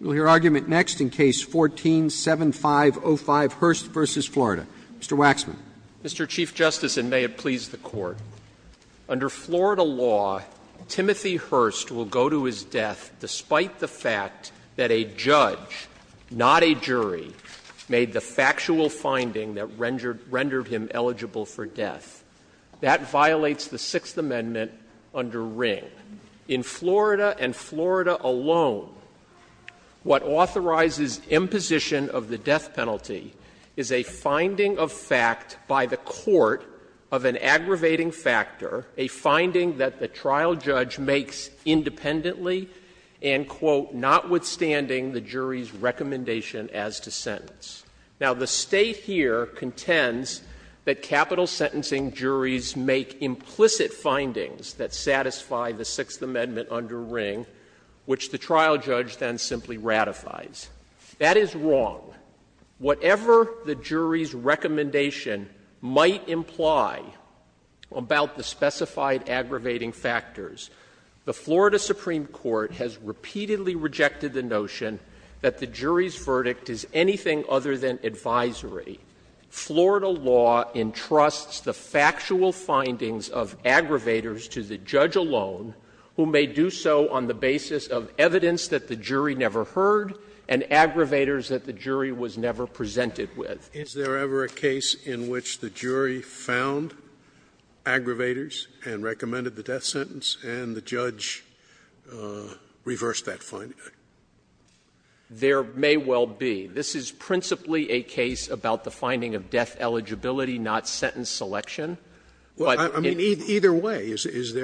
We'll hear argument next in Case 14-7505, Hurst v. Florida. Mr. Waxman. Mr. Chief Justice, and may it please the Court, under Florida law, Timothy Hurst will go to his death despite the fact that a judge, not a jury, made the factual finding that rendered him eligible for death. That violates the Sixth Amendment under Ring. In Florida, and Florida alone, what authorizes imposition of the death penalty is a finding of fact by the court of an aggravating factor, a finding that the trial judge makes independently and, quote, notwithstanding the jury's recommendation as to sentence. Now, the State here contends that capital sentencing juries make implicit findings that satisfy the Sixth Amendment under Ring, which the trial judge then simply ratifies. That is wrong. Whatever the jury's recommendation might imply about the specified aggravating factors, the Florida Supreme Court has repeatedly rejected the notion that the jury's recommendation, rather than advisory, Florida law entrusts the factual findings of aggravators to the judge alone who may do so on the basis of evidence that the jury never heard and aggravators that the jury was never presented with. Scalia. Is there ever a case in which the jury found aggravators and recommended the death sentence and the judge reversed that finding? There may well be. This is principally a case about the finding of death eligibility, not sentence selection. I mean, either way, is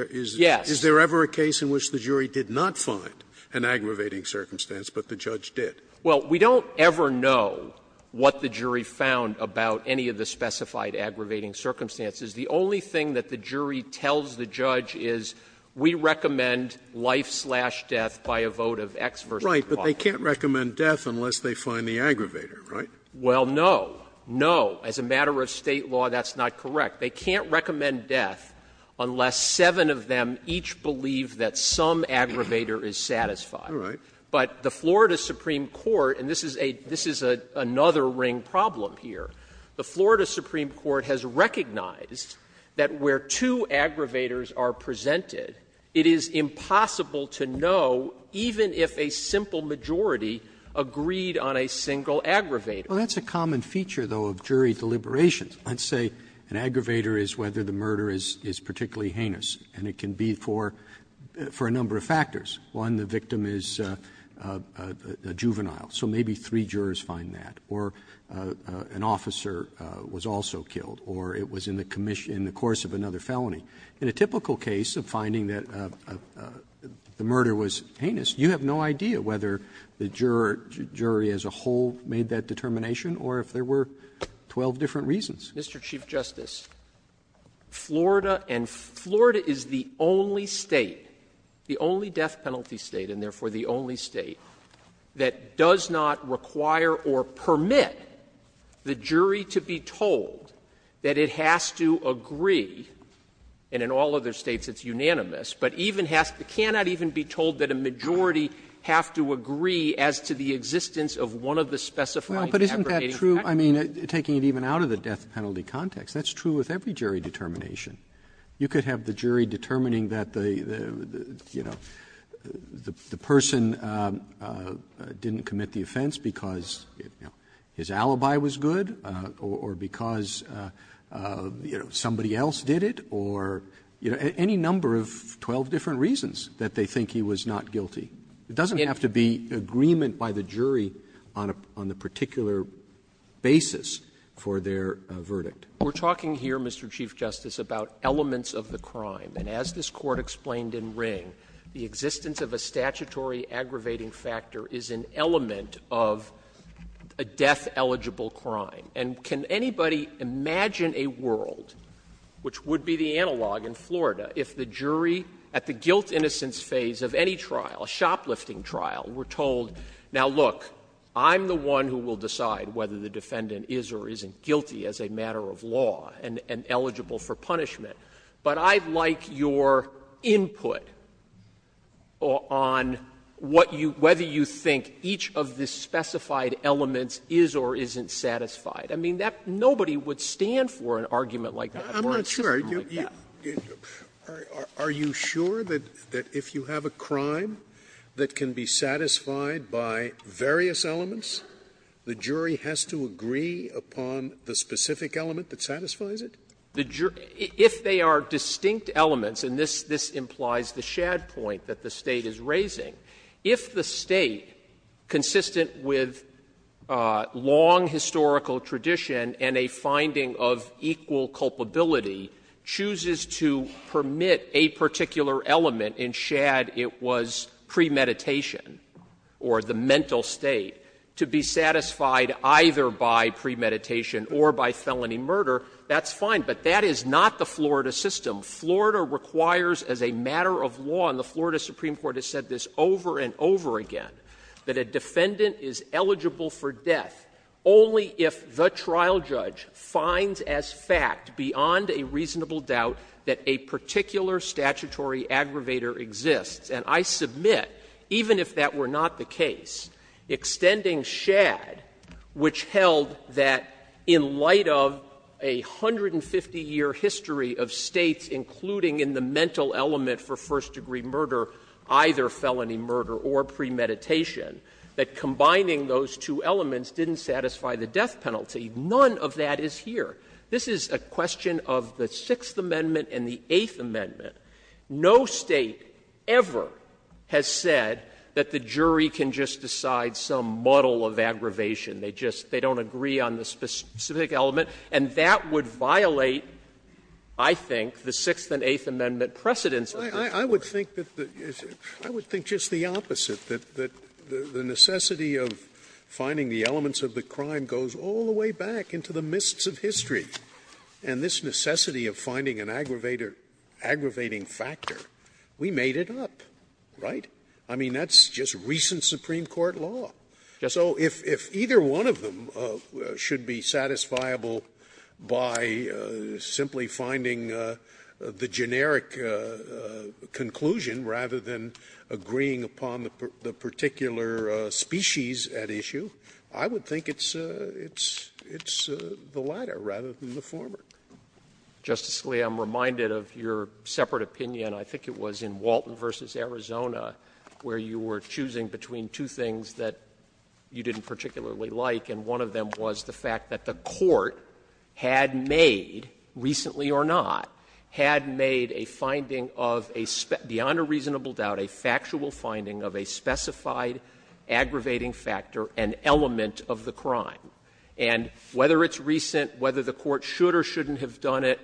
there ever a case in which the jury did not find an aggravating circumstance, but the judge did? Well, we don't ever know what the jury found about any of the specified aggravating circumstances. The only thing that the jury tells the judge is, we recommend life-slash-death by a vote of X versus 5. They can't recommend death unless they find the aggravator, right? Well, no. No. As a matter of State law, that's not correct. They can't recommend death unless seven of them each believe that some aggravator is satisfied. All right. But the Florida Supreme Court, and this is a — this is another ring problem here. The Florida Supreme Court has recognized that where two aggravators are presented, it is impossible to know, even if a simple majority agreed on a single aggravator. Well, that's a common feature, though, of jury deliberations. Let's say an aggravator is whether the murder is particularly heinous, and it can be for a number of factors. One, the victim is a juvenile. So maybe three jurors find that. Or an officer was also killed. Or it was in the commission — in the course of another felony. In a typical case of finding that the murder was heinous, you have no idea whether the jury as a whole made that determination or if there were 12 different reasons. Mr. Chief Justice, Florida and — Florida is the only State, the only death-penalty State, and therefore the only State, that does not require or permit the jury to be unanimous. And in all other States, it's unanimous, but even has to — cannot even be told that a majority have to agree as to the existence of one of the specified aggravating factors. Roberts, I mean, taking it even out of the death-penalty context, that's true with every jury determination. You could have the jury determining that the, you know, the person didn't commit the offense because his alibi was good or because, you know, somebody else did it or any number of 12 different reasons that they think he was not guilty. It doesn't have to be agreement by the jury on a particular basis for their verdict. We're talking here, Mr. Chief Justice, about elements of the crime. And as this Court explained in Ring, the existence of a statutory aggravating factor is an element of a death-eligible crime. And can anybody imagine a world, which would be the analog in Florida, if the jury at the guilt-innocence phase of any trial, a shoplifting trial, were told, now look, I'm the one who will decide whether the defendant is or isn't guilty as a matter of law and eligible for punishment, but I'd like your input on what you — whether you think each of the specified elements is or isn't satisfied? I mean, that — nobody would stand for an argument like that or a system like that. Sotomayor, are you sure that if you have a crime that can be satisfied by various elements, the jury has to agree upon the specific element that satisfies it? If they are distinct elements, and this implies the shad point that the State is raising, if the State, consistent with long historical tradition and a finding of equal culpability, chooses to permit a particular element in shad, it was premeditation or the mental state, to be satisfied either by premeditation or by felony murder, that's fine, but that is not the Florida system. Florida requires as a matter of law, and the Florida Supreme Court has said this over and over again, that a defendant is eligible for death only if the trial judge finds as fact, beyond a reasonable doubt, that a particular statutory aggravator exists, and I submit, even if that were not the case, extending shad, which held that in light of a 150-year history of States, including in the mental element for first-degree murder, either felony murder or premeditation, that combining those two elements didn't satisfy the death penalty. None of that is here. This is a question of the Sixth Amendment and the Eighth Amendment. No State ever has said that the jury can just decide some muddle of aggravation. They just don't agree on the specific element, and that would violate, I think, the Sixth and Eighth Amendment precedents. Scalia, I would think that the – I would think just the opposite, that the necessity of finding the elements of the crime goes all the way back into the mists of history, and this necessity of finding an aggravator, aggravating factor, we made it up, right? I mean, that's just recent Supreme Court law. So if either one of them should be satisfiable by simply finding the generic conclusion rather than agreeing upon the particular species at issue, I would think it's the latter rather than the former. Justice Scalia, I'm reminded of your separate opinion, I think it was in Walton v. Arizona, where you were choosing between two things that you didn't particularly like, and one of them was the fact that the court had made, recently or not, had made a finding of a – beyond a reasonable doubt, a factual finding of a specified aggravating factor, an element of the crime. And whether it's recent, whether the court should or shouldn't have done it,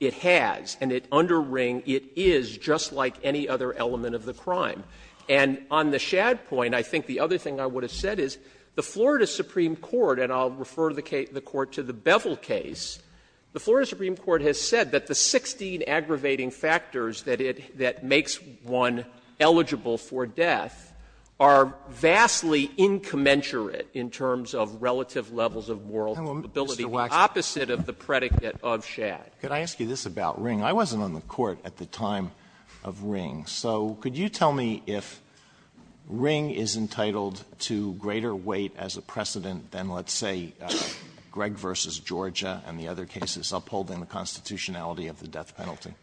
it has, and it under Ring, it is just like any other element of the crime. And on the Shad point, I think the other thing I would have said is the Florida Supreme Court, and I'll refer the Court to the Bevel case, the Florida Supreme Court has said that the 16 aggravating factors that it – that makes one eligible for death are vastly incommensurate in terms of relative levels of moral capability, opposite of the predicate of Shad. Alito, could I ask you this about Ring? I wasn't on the court at the time of Ring. So could you tell me if Ring is entitled to greater weight as a precedent than, let's say, Gregg v. Georgia and the other cases upholding the constitutionality of the death penalty?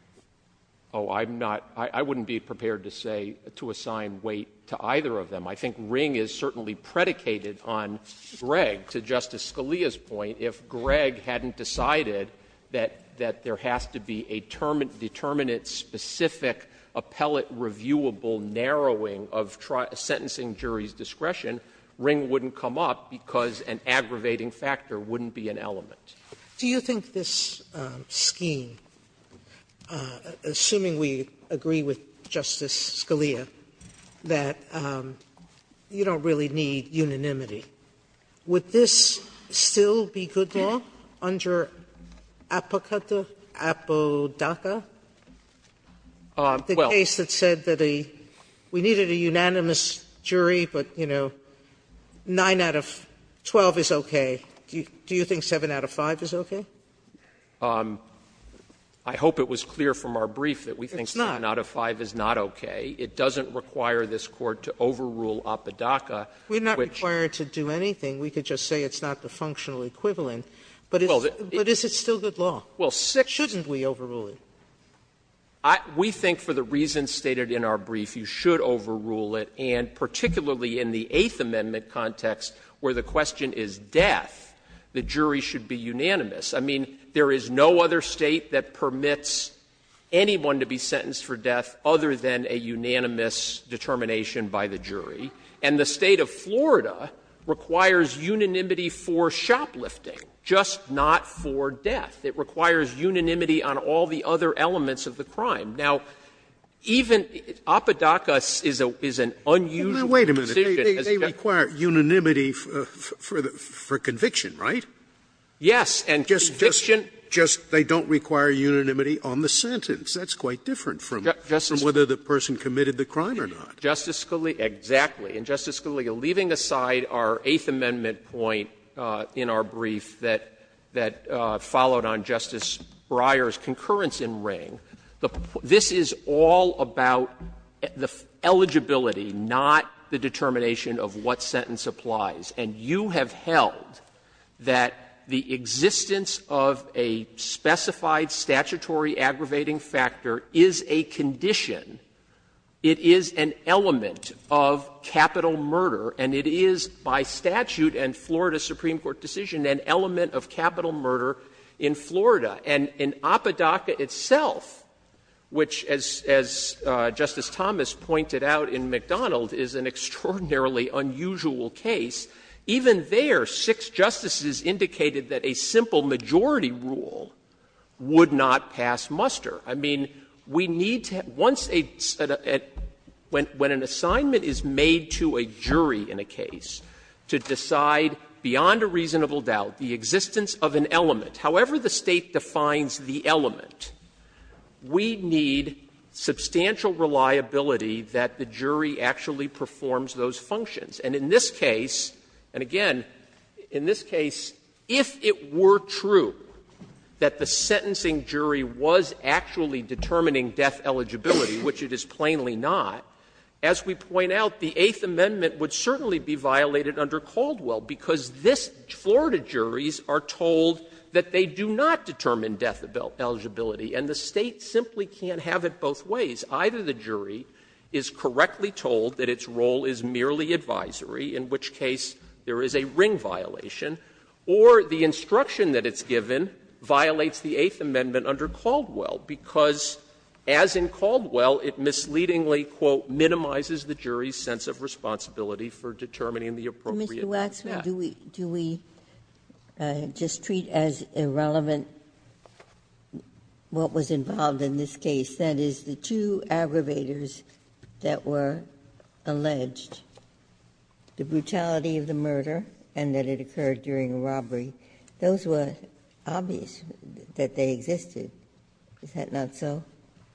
Oh, I'm not – I wouldn't be prepared to say – to assign weight to either of them. I think Ring is certainly predicated on Gregg, to Justice Scalia's point, if Gregg hadn't decided that there has to be a determinate, specific, appellate, reviewable narrowing of sentencing jury's discretion, Ring wouldn't come up because an aggravating factor wouldn't be an element. Do you think this scheme, assuming we agree with Justice Scalia, that you don't really need unanimity, would this still be good law? Under Apodaca, the case that said that a – we needed a unanimous jury, but, you know, 9 out of 12 is okay, do you think 7 out of 5 is okay? I hope it was clear from our brief that we think 7 out of 5 is not okay. It doesn't require this Court to overrule Apodaca, which – We're not required to do anything. We could just say it's not the functional equivalent. But is it still good law? Shouldn't we overrule it? We think for the reasons stated in our brief, you should overrule it, and particularly in the Eighth Amendment context where the question is death, the jury should be unanimous. I mean, there is no other State that permits anyone to be sentenced for death other than a unanimous determination by the jury, and the State of Florida requires unanimity for shoplifting, just not for death. It requires unanimity on all the other elements of the crime. Now, even Apodaca is an unusual position as a judge. Wait a minute. They require unanimity for conviction, right? Yes, and conviction – Just they don't require unanimity on the sentence. That's quite different from whether the person committed the crime or not. Justice Scalia, exactly. And, Justice Scalia, leaving aside our Eighth Amendment point in our brief that followed on Justice Breyer's concurrence in Ring, this is all about the eligibility, not the determination of what sentence applies. And you have held that the existence of a specified statutory aggravating factor is a condition, it is an element of capital murder, and it is by statute and Florida Supreme Court decision an element of capital murder in Florida. And in Apodaca itself, which, as Justice Thomas pointed out in McDonald, is an extraordinarily unusual case, even there, six justices indicated that a simple majority rule would not pass muster. I mean, we need to – once a – when an assignment is made to a jury in a case to decide beyond a reasonable doubt the existence of an element, however the State defines the element, we need substantial reliability that the jury actually performs those functions. And in this case, and again, in this case, if it were true that the sentencing jury was actually determining death eligibility, which it is plainly not, as we point out, the Eighth Amendment would certainly be violated under Caldwell, because this – Florida juries are told that they do not determine death eligibility, and the State simply can't have it both ways. Either the jury is correctly told that its role is merely advisory, in which case there is a ring violation, or the instruction that it's given violates the Eighth Amendment under Caldwell, because as in Caldwell, it misleadingly, quote, minimizes the jury's sense of responsibility for determining the appropriate death. Ginsburg. Do we just treat as irrelevant what was involved in this case, that is, the two aggravators that were alleged, the brutality of the murder and that it occurred during a robbery? Those were obvious that they existed. Is that not so?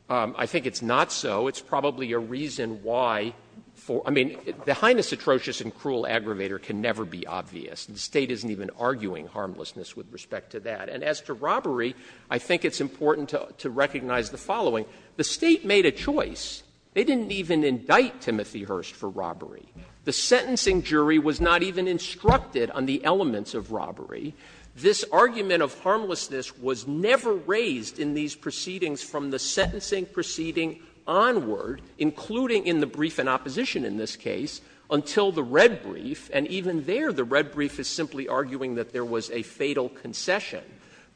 Waxman. I think it's not so. It's probably a reason why for – I mean, the heinous atrocious and cruel aggravator can never be obvious. The State isn't even arguing harmlessness with respect to that. And as to robbery, I think it's important to recognize the following. The State made a choice. They didn't even indict Timothy Hurst for robbery. The sentencing jury was not even instructed on the elements of robbery. This argument of harmlessness was never raised in these proceedings from the sentencing proceeding onward, including in the brief in opposition in this case, until the red brief. And even there, the red brief is simply arguing that there was a fatal concession.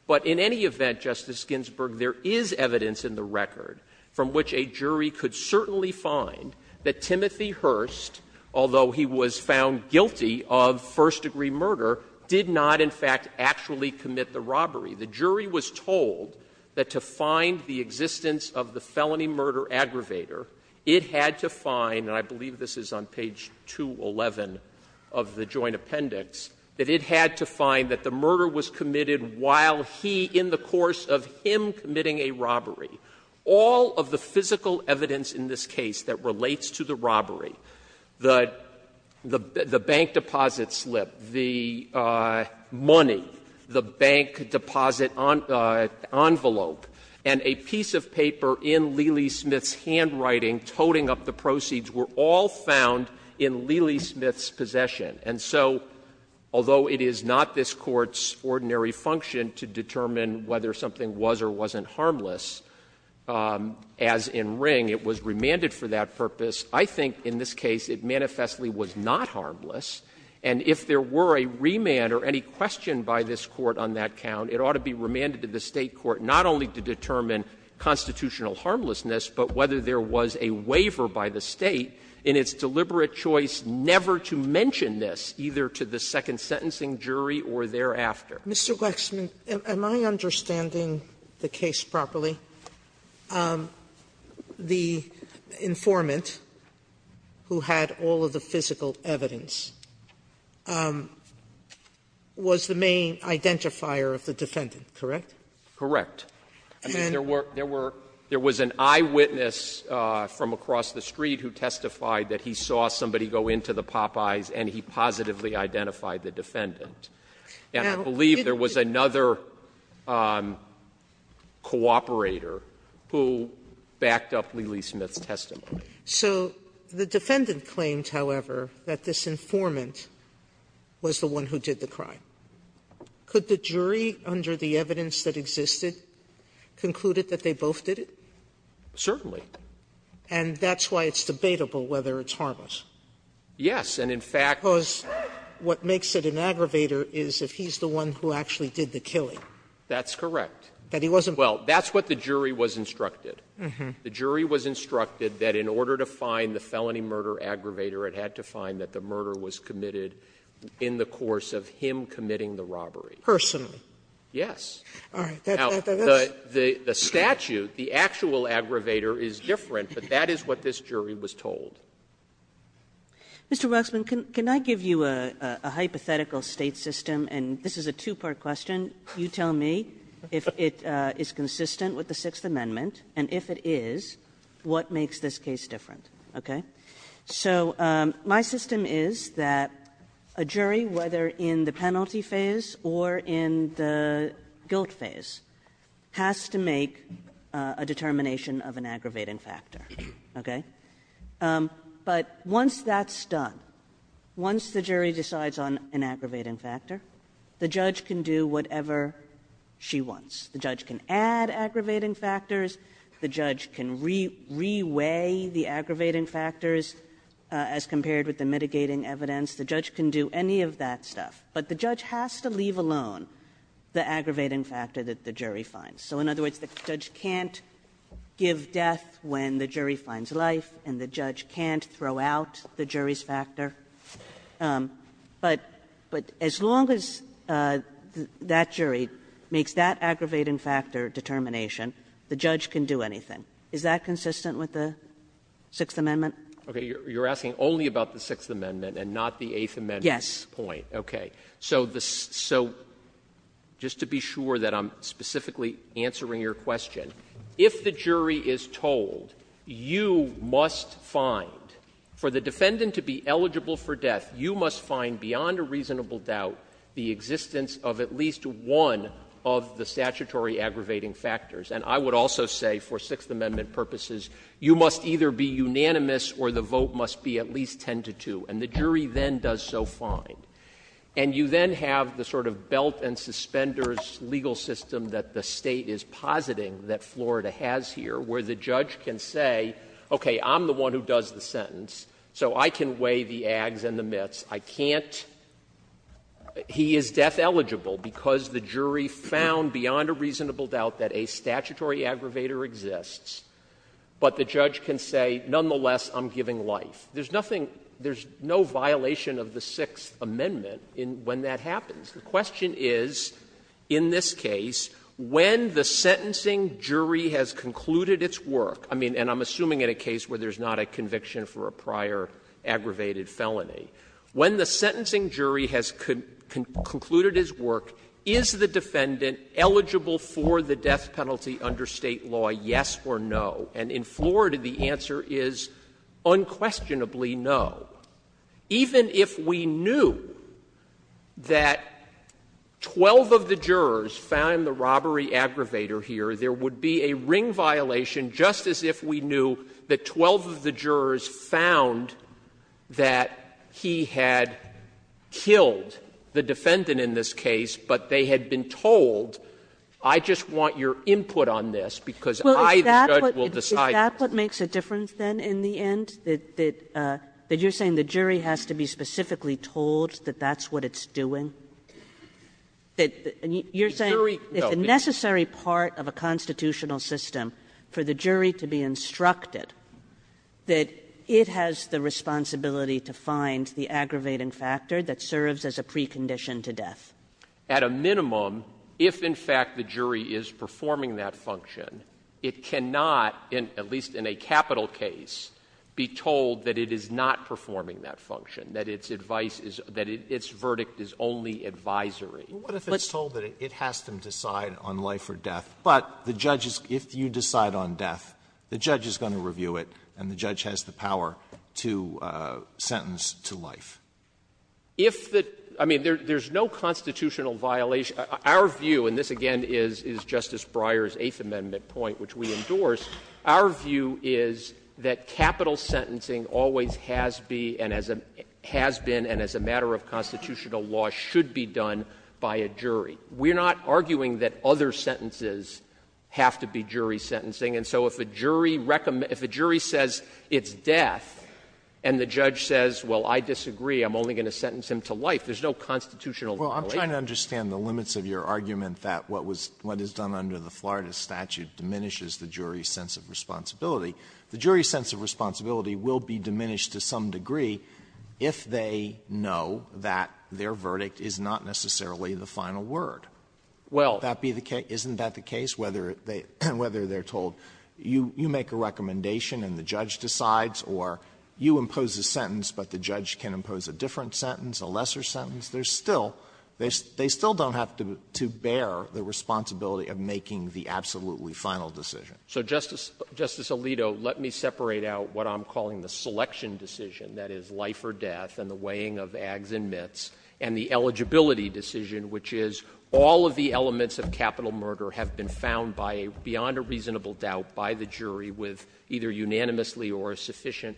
But in any event, Justice Ginsburg, there is evidence in the record from which a jury could certainly find that Timothy Hurst, although he was found guilty of first-degree murder, did not in fact actually commit the robbery. The jury was told that to find the existence of the felony murder aggravator, it had to find – and I believe this is on page 211 of the joint appendix – that it had to find that the murder was committed while he, in the course of him committing a robbery. All of the physical evidence in this case that relates to the robbery, the bank deposit slip, the money, the bank deposit envelope, and a piece of paper in Leeley Smith's handwriting toting up the proceeds were all found in Leeley Smith's possession. And so, although it is not this Court's ordinary function to determine whether something was or wasn't harmless, as in Ring, it was remanded for that purpose. I think in this case, it manifestly was not harmless. And if there were a remand or any question by this Court on that count, it ought to be remanded to the State court, not only to determine constitutional harmlessness, but whether there was a waiver by the State in its deliberate choice never to mention this, either to the second sentencing jury or thereafter. Sotomayor, am I understanding the case properly? The informant who had all of the physical evidence was the main identifier of the defendant, correct? Correct. I mean, there were – there was an eyewitness from across the street who testified that he saw somebody go into the Popeyes and he positively identified the defendant. And I believe there was another cooperator who backed up Leeley Smith's testimony. So the defendant claimed, however, that this informant was the one who did the crime. Could the jury, under the evidence that existed, conclude that they both did it? Certainly. And that's why it's debatable whether it's harmless? Yes. And in fact – Because what makes it an aggravator is if he's the one who actually did the killing. That's correct. That he wasn't – Well, that's what the jury was instructed. The jury was instructed that in order to find the felony murder aggravator, it had to find that the murder was committed in the course of him committing the robbery. Personally? Yes. All right. Now, the statute, the actual aggravator, is different, but that is what this jury was told. Mr. Waxman, can I give you a hypothetical State system? And this is a two-part question. You tell me if it is consistent with the Sixth Amendment, and if it is, what makes this case different, okay? So my system is that a jury, whether in the penalty phase or in the guilt phase, has to make a determination of an aggravating factor, okay? But once that's done, once the jury decides on an aggravating factor, the judge can do whatever she wants. The judge can add aggravating factors. The judge can re-weigh the aggravating factors as compared with the mitigating evidence. The judge can do any of that stuff, but the judge has to leave alone the aggravating factor that the jury finds. So in other words, the judge can't give death when the jury finds life, and the judge can't throw out the jury's factor. But as long as that jury makes that aggravating factor determination, the judge can do anything. Is that consistent with the Sixth Amendment? Okay. You're asking only about the Sixth Amendment and not the Eighth Amendment's point. Yes. Okay. So just to be sure that I'm specifically answering your question, if the jury is told you must find, for the defendant to be eligible for death, you must find beyond a reasonable doubt the existence of at least one of the statutory aggravating factors. And I would also say, for Sixth Amendment purposes, you must either be unanimous or the vote must be at least 10 to 2. And the jury then does so fine. And you then have the sort of belt and suspenders legal system that the State is positing that Florida has here, where the judge can say, okay, I'm the one who does the sentence, so I can weigh the ags and the mits. I can't — he is death eligible because the jury found beyond a reasonable doubt that a statutory aggravator exists. But the judge can say, nonetheless, I'm giving life. There's nothing — there's no violation of the Sixth Amendment in — when that happens. The question is, in this case, when the sentencing jury has concluded its work — I mean, and I'm assuming in a case where there's not a conviction for a prior aggravated felony — when the sentencing jury has concluded its work, is the defendant eligible for the death penalty under State law, yes or no? And in Florida, the answer is unquestionably no. Even if we knew that 12 of the jurors found the robbery aggravator here, there would be a ring violation, just as if we knew that 12 of the jurors found that he had killed the defendant in this case, but they had been told, I just want your input on this because I, the judge, will decide. Kagan. Is that what makes a difference, then, in the end, that you're saying the jury has to be specifically told that that's what it's doing? You're saying if the necessary part of a constitutional system for the jury to be instructed, that it has the responsibility to find the aggravating factor that serves as a precondition to death? At a minimum, if, in fact, the jury is performing that function, it cannot, at least in a capital case, be told that it is not performing that function, that its advice is — that its verdict is only advisory. But the judge is — Alito What if it's told that it has to decide on life or death, but the judge is — if you decide on death, the judge is going to review it, and the judge has the power to sentence to life? If the — I mean, there's no constitutional violation — our view, and this, again, is Justice Breyer's Eighth Amendment point, which we endorse, our view is that capital sentencing always has been and as a matter of constitutional law should be done by a jury. We're not arguing that other sentences have to be jury sentencing. And so if a jury says it's death, and the judge says, well, I disagree, I'm only going to sentence him to life, there's no constitutional violation. Alito Well, I'm trying to understand the limits of your argument that what was — what is done under the Florida statute diminishes the jury's sense of responsibility. The jury's sense of responsibility will be diminished to some degree if they know that their verdict is not necessarily the final word. Well, that be the case — isn't that the case, whether they're told, well, I'm going to sentence you, you make a recommendation, and the judge decides, or you impose a sentence, but the judge can impose a different sentence, a lesser sentence, there's still — they still don't have to bear the responsibility of making the absolutely final decision. Waxman So, Justice — Justice Alito, let me separate out what I'm calling the selection decision, that is, life or death, and the weighing of ags and mits, and the eligibility decision, which is all of the elements of capital murder have been found by a — beyond a reasonable doubt by the jury with either unanimously or a sufficient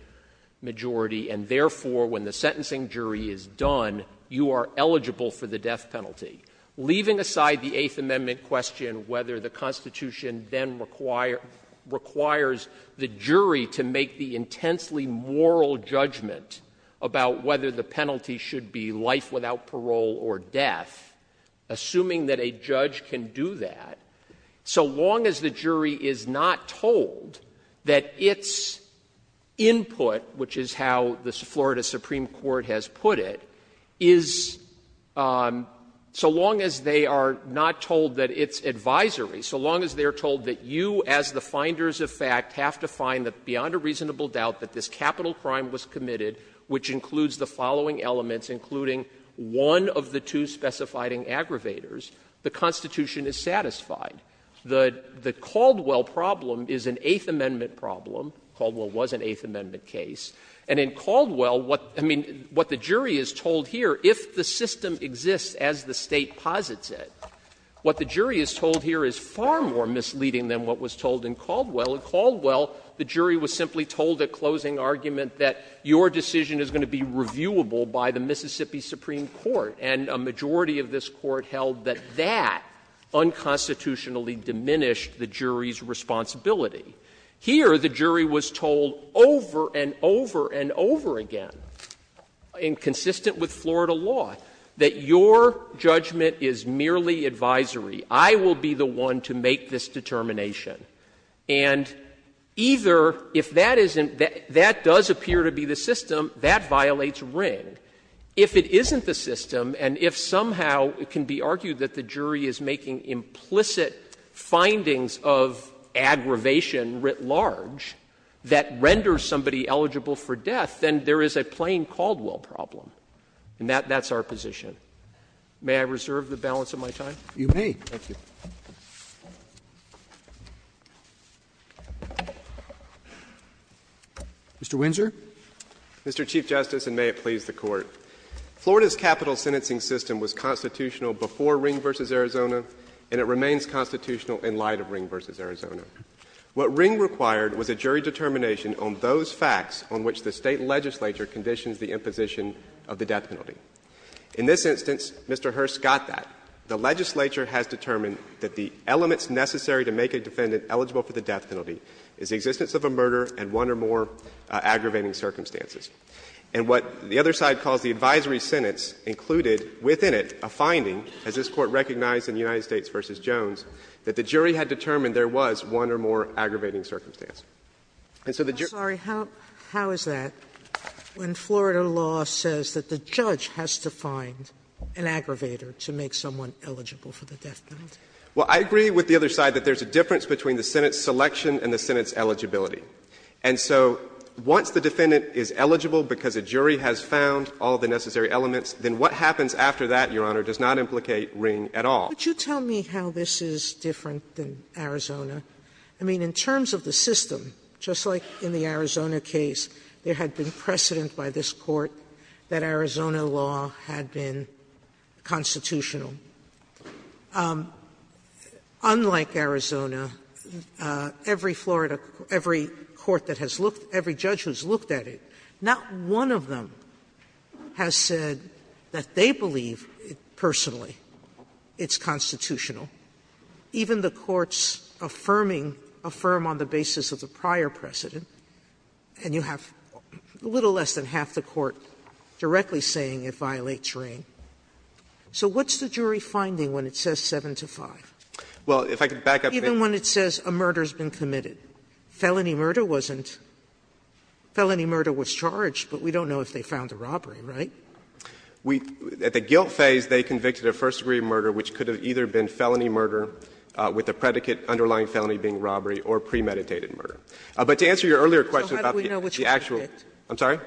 majority, and therefore, when the sentencing jury is done, you are eligible for the death penalty. Leaving aside the Eighth Amendment question, whether the Constitution then requires the jury to make the intensely moral judgment about whether the penalty should be life without parole or death, assuming that a judge can do that, so long as the jury is not told that its input, which is how the Florida Supreme Court has put it, is — so long as they are not told that its advisory, so long as they are told that you, as the finders of fact, have to find that beyond a reasonable doubt that this capital crime was committed, which includes the following elements, including one of the two specified aggravators, the Constitution is satisfied. The — the Caldwell problem is an Eighth Amendment problem. Caldwell was an Eighth Amendment case. And in Caldwell, what — I mean, what the jury is told here, if the system exists as the State posits it, what the jury is told here is far more misleading than what was told in Caldwell. In Caldwell, the jury was simply told at closing argument that your decision is going to be reviewable by the Mississippi Supreme Court. And a majority of this Court held that that unconstitutionally diminished the jury's responsibility. Here, the jury was told over and over and over again, and consistent with Florida law, that your judgment is merely advisory. I will be the one to make this determination. And either, if that isn't — that does appear to be the system, that violates Ring. If it isn't the system, and if somehow it can be argued that the jury is making implicit findings of aggravation writ large that renders somebody eligible for death, then there is a plain Caldwell problem. And that's our position. May I reserve the balance of my time? Roberts. You may. Thank you. Mr. Windsor. Mr. Chief Justice, and may it please the Court. Florida's capital sentencing system was constitutional before Ring v. Arizona, and it remains constitutional in light of Ring v. Arizona. What Ring required was a jury determination on those facts on which the State legislature conditions the imposition of the death penalty. In this instance, Mr. Hurst got that. The legislature has determined that the elements necessary to make a defendant eligible for the death penalty is the existence of a murder and one or more aggravating circumstances. And what the other side calls the advisory sentence included within it a finding, as this Court recognized in the United States v. Jones, that the jury had determined there was one or more aggravating circumstances. And so the jury — Sotomayor, how is that, when Florida law says that the judge has to find an aggravator to make someone eligible for the death penalty? Well, I agree with the other side that there's a difference between the Senate's selection and the Senate's eligibility. And so once the defendant is eligible because a jury has found all the necessary elements, then what happens after that, Your Honor, does not implicate Ring at all. Could you tell me how this is different than Arizona? I mean, in terms of the system, just like in the Arizona case, there had been precedent by this Court that Arizona law had been constitutional. Unlike Arizona, every Florida — every court that has looked — every judge who has looked at it, not one of them has said that they believe, personally, it's constitutional. Even the courts affirming — affirm on the basis of the prior precedent, and you have a little less than half the court directly saying it violates Ring. So what's the jury finding when it says 7 to 5? Well, if I could back up. Even when it says a murder has been committed, felony murder wasn't. Felony murder was charged, but we don't know if they found a robbery, right? We — at the guilt phase, they convicted of first-degree murder, which could have either been felony murder with the predicate underlying felony being robbery or premeditated murder. But to answer your earlier question about the actual — Sotomayor, so how do we know which one they picked? I'm sorry?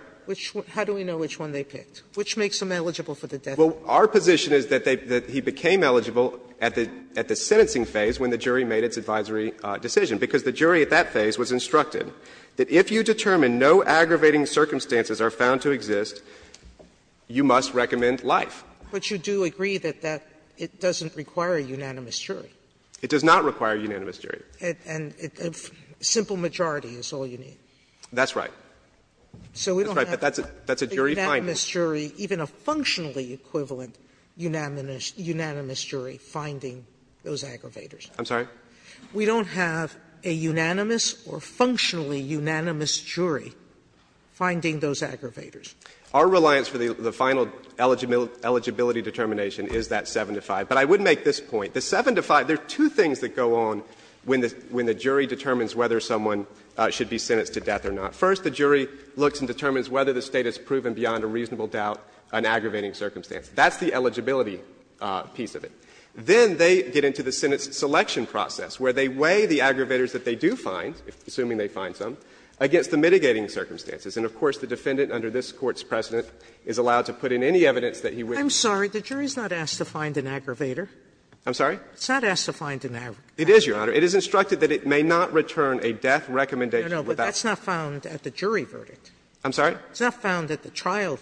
How do we know which one they picked? Which makes them eligible for the death penalty? Well, our position is that they — that he became eligible at the — at the sentencing phase when the jury made its advisory decision, because the jury at that phase was instructed that if you determine no aggravating circumstances are found to exist, you must recommend life. But you do agree that that — it doesn't require a unanimous jury. It does not require a unanimous jury. And a simple majority is all you need. That's right. So we don't have a unanimous jury, even a functionally equivalent unanimous jury, finding those aggravators. I'm sorry? We don't have a unanimous or functionally unanimous jury finding those aggravators. Our reliance for the final eligibility determination is that 7 to 5. But I would make this point. The 7 to 5, there are two things that go on when the jury determines whether someone should be sentenced to death or not. First, the jury looks and determines whether the State has proven beyond a reasonable doubt an aggravating circumstance. That's the eligibility piece of it. Then they get into the sentence selection process, where they weigh the aggravators that they do find, assuming they find some, against the mitigating circumstances. And of course, the defendant under this Court's precedent is allowed to put in any evidence that he wishes. I'm sorry. The jury is not asked to find an aggravator. I'm sorry? It's not asked to find an aggravator. It is, Your Honor. It is instructed that it may not return a death recommendation without. No, no, but that's not found at the jury verdict. I'm sorry? It's not found at the trial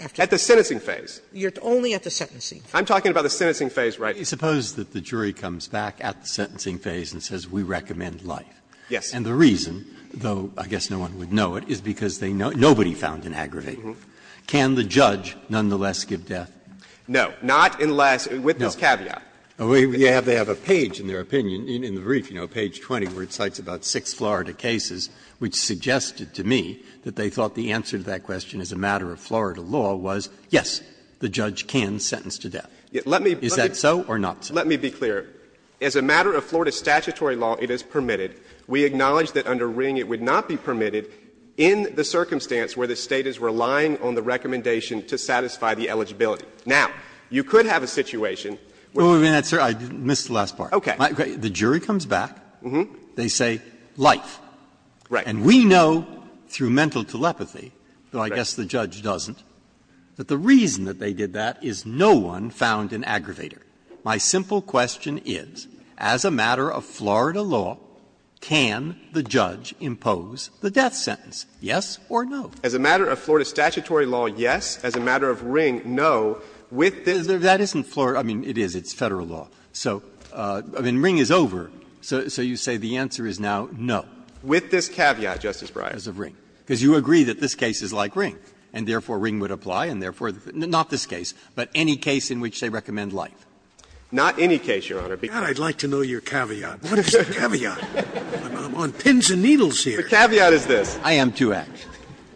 after. At the sentencing phase. You're only at the sentencing. I'm talking about the sentencing phase, right. Suppose that the jury comes back at the sentencing phase and says, we recommend life. Yes. And the reason, though I guess no one would know it, is because nobody found an aggravator. Can the judge nonetheless give death? No. Not unless, with this caveat. They have a page in their opinion, in the brief, you know, page 20, where it cites about six Florida cases, which suggested to me that they thought the answer to that question as a matter of Florida law was, yes, the judge can sentence to death. Is that so or not so? Let me be clear. As a matter of Florida statutory law, it is permitted. We acknowledge that under Ring it would not be permitted in the circumstance where the State is relying on the recommendation to satisfy the eligibility. Now, you could have a situation where the jury comes back, they say, life, and we know through mental telepathy, though I guess the judge doesn't, that the reason that they did that is no one found an aggravator. My simple question is, as a matter of Florida law, can the judge impose the death sentence, yes or no? As a matter of Florida statutory law, yes. As a matter of Ring, no. With this caveat. Breyer. That isn't Florida. I mean, it is. It's Federal law. So, I mean, Ring is over. So you say the answer is now no. With this caveat, Justice Breyer. As of Ring. Because you agree that this case is like Ring, and therefore Ring would apply, and therefore the Fed not this case, but any case in which they recommend life. Not any case, Your Honor. God, I'd like to know your caveat. What is your caveat? I'm on pins and needles here. The caveat is this. I am too, actually.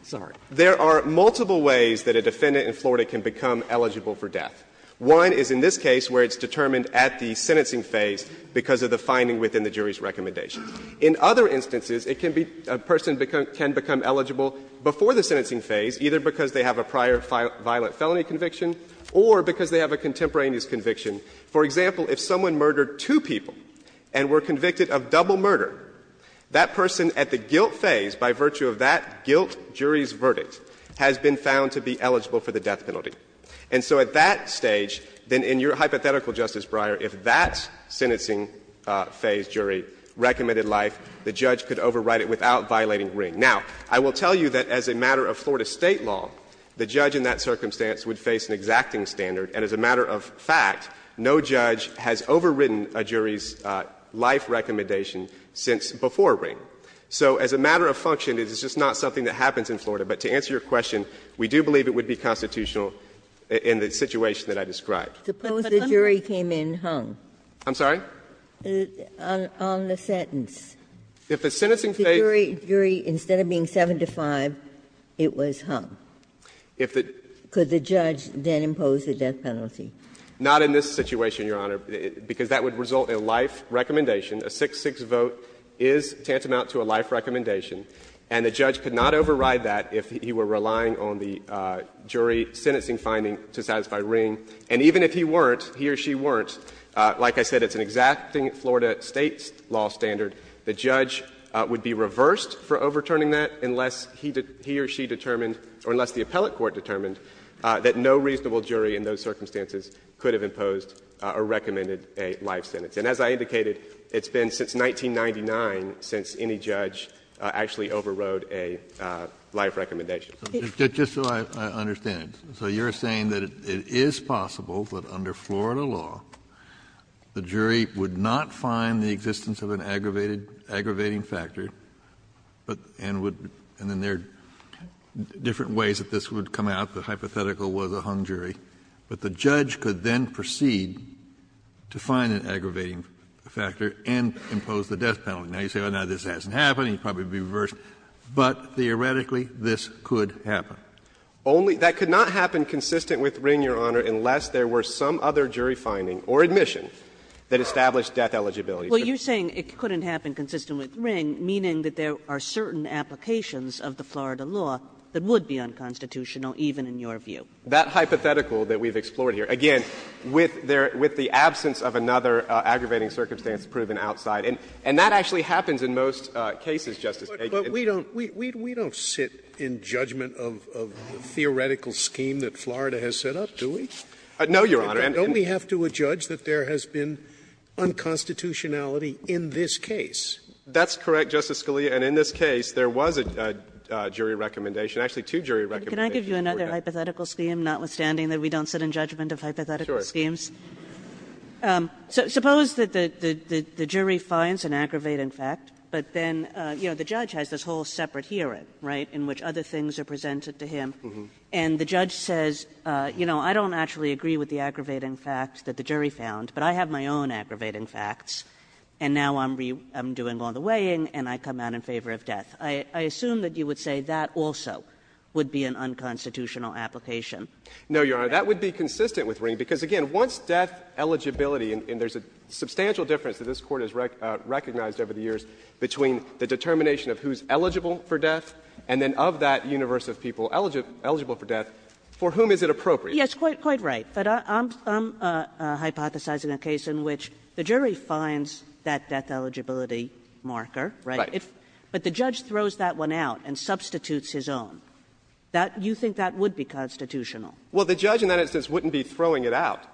Sorry. There are multiple ways that a defendant in Florida can become eligible for death. One is in this case where it's determined at the sentencing phase because of the finding within the jury's recommendation. In other instances, it can be — a person can become eligible before the sentencing phase, either because they have a prior violent felony conviction or because they have a contemporaneous conviction. For example, if someone murdered two people and were convicted of double murder, that person at the guilt phase, by virtue of that guilt jury's verdict, has been found to be eligible for the death penalty. And so at that stage, then in your hypothetical, Justice Breyer, if that sentencing phase jury recommended life, the judge could overwrite it without violating Ring. Now, I will tell you that as a matter of Florida State law, the judge in that circumstance would face an exacting standard, and as a matter of fact, no judge has overridden a jury's life recommendation since before Ring. So as a matter of function, this is just not something that happens in Florida. But to answer your question, we do believe it would be constitutional in the situation that I described. Ginsburg. But the jury came in hung. I'm sorry? On the sentence. If the sentencing phase — If the jury, instead of being 7 to 5, it was hung. If the — Could the judge then impose the death penalty? Not in this situation, Your Honor, because that would result in a life recommendation. A 6-6 vote is tantamount to a life recommendation. And the judge could not override that if he were relying on the jury sentencing finding to satisfy Ring. And even if he weren't, he or she weren't, like I said, it's an exacting Florida State law standard. The judge would be reversed for overturning that unless he or she determined or unless the appellate court determined that no reasonable jury in those circumstances could have imposed or recommended a life sentence. And as I indicated, it's been since 1999 since any judge actually overrode a life recommendation. Just so I understand it, so you're saying that it is possible that under Florida law, the jury would not find the existence of an aggravating factor and would — and there are different ways that this would come out. The hypothetical was a hung jury. But the judge could then proceed to find an aggravating factor and impose the death penalty. Now, you say, well, no, this hasn't happened, he'd probably be reversed. But theoretically, this could happen. Only — that could not happen consistent with Ring, Your Honor, unless there were some other jury finding or admission that established death eligibility. Kagan. Well, you're saying it couldn't happen consistent with Ring, meaning that there are certain applications of the Florida law that would be unconstitutional, even in your view. That hypothetical that we've explored here, again, with the absence of another aggravating circumstance proven outside, and that actually happens in most cases, Justice Kagan. But we don't sit in judgment of the theoretical scheme that Florida has set up, do we? No, Your Honor. Don't we have to adjudge that there has been unconstitutionality in this case? That's correct, Justice Scalia. And in this case, there was a jury recommendation, actually two jury recommendations Kagan. Can I give you another hypothetical scheme, notwithstanding that we don't sit in judgment of hypothetical schemes? Sure. Suppose that the jury finds an aggravating fact, but then, you know, the judge has this whole separate hearing, right, in which other things are presented to him. And the judge says, you know, I don't actually agree with the aggravating fact that the jury found, but I have my own aggravating facts, and now I'm doing all the weighing, and I come out in favor of death. I assume that you would say that also would be an unconstitutional application. No, Your Honor. That would be consistent with Ring, because, again, once death eligibility and there's a substantial difference that this Court has recognized over the years between the determination of who's eligible for death, and then of that universe of people eligible for death, for whom is it appropriate? Yes, quite right. But I'm hypothesizing a case in which the jury finds that death eligibility marker, right? Right. But the judge throws that one out and substitutes his own. That you think that would be constitutional? Well, the judge in that instance wouldn't be throwing it out.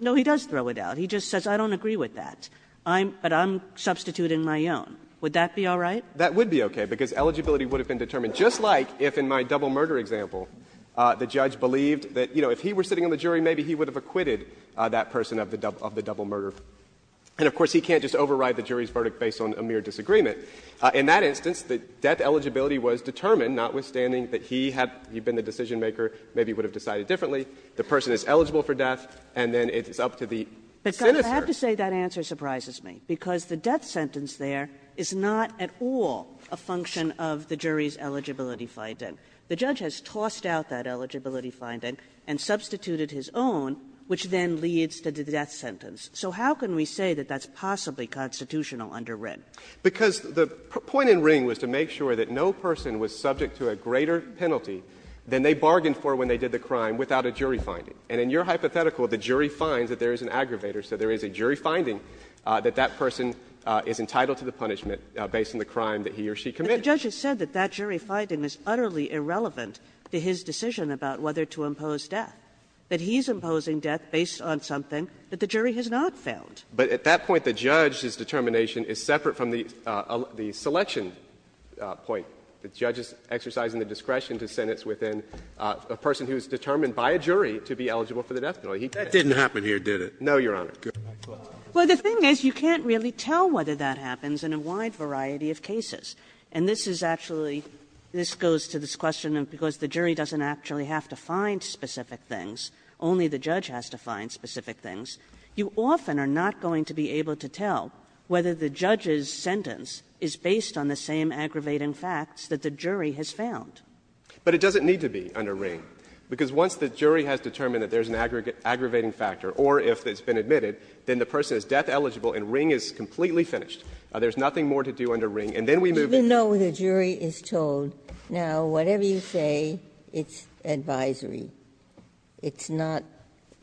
No, he does throw it out. He just says, I don't agree with that. I'm – but I'm substituting my own. Would that be all right? That would be okay, because eligibility would have been determined, just like if in my double murder example, the judge believed that, you know, if he were sitting on the jury, maybe he would have acquitted that person of the double murder. And, of course, he can't just override the jury's verdict based on a mere disagreement. In that instance, the death eligibility was determined, notwithstanding that he had been the decisionmaker, maybe he would have decided differently. The person is eligible for death, and then it's up to the senator. But, Scott, I have to say that answer surprises me, because the death sentence there is not at all a function of the jury's eligibility finding. The judge has tossed out that eligibility finding and substituted his own, which then leads to the death sentence. So how can we say that that's possibly constitutional under Wren? Because the point in Wren was to make sure that no person was subject to a greater penalty than they bargained for when they did the crime without a jury finding. And in your hypothetical, the jury finds that there is an aggravator. So there is a jury finding that that person is entitled to the punishment based on the crime that he or she committed. But the judge has said that that jury finding is utterly irrelevant to his decision about whether to impose death, that he is imposing death based on something that the jury has not found. But at that point, the judge's determination is separate from the selection point. The judge is exercising the discretion to sentence within a person who is determined by a jury to be eligible for the death penalty. He can't. That didn't happen here, did it? No, Your Honor. Well, the thing is, you can't really tell whether that happens in a wide variety of cases. And this is actually, this goes to this question of because the jury doesn't actually have to find specific things, only the judge has to find specific things, you often are not going to be able to tell whether the judge's sentence is based on the same aggravating facts that the jury has found. But it doesn't need to be under Wren, because once the jury has determined that there's an aggravating factor, or if it's been admitted, then the person is death-eligible and Wren is completely finished. There's nothing more to do under Wren, and then we move into the next case. Ginsburg. Even though the jury is told, now, whatever you say, it's advisory, it's not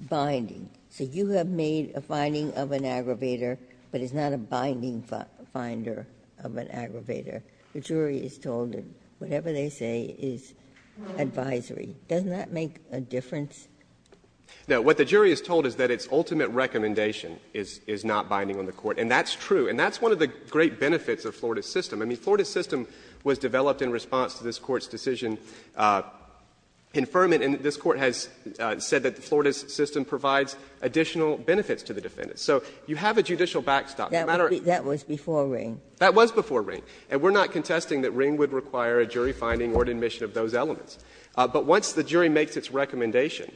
binding. So you have made a finding of an aggravator, but it's not a binding finder of an aggravator. The jury is told that whatever they say is advisory. Doesn't that make a difference? Now, what the jury is told is that its ultimate recommendation is not binding on the Court, and that's true. And that's one of the great benefits of Florida's system. I mean, Florida's system was developed in response to this Court's decision in Furman, and this Court has said that Florida's system provides additional benefits to the defendants. So you have a judicial backstop, no matter what. That was before Wren. That was before Wren, and we're not contesting that Wren would require a jury finding or admission of those elements. But once the jury makes its recommendation,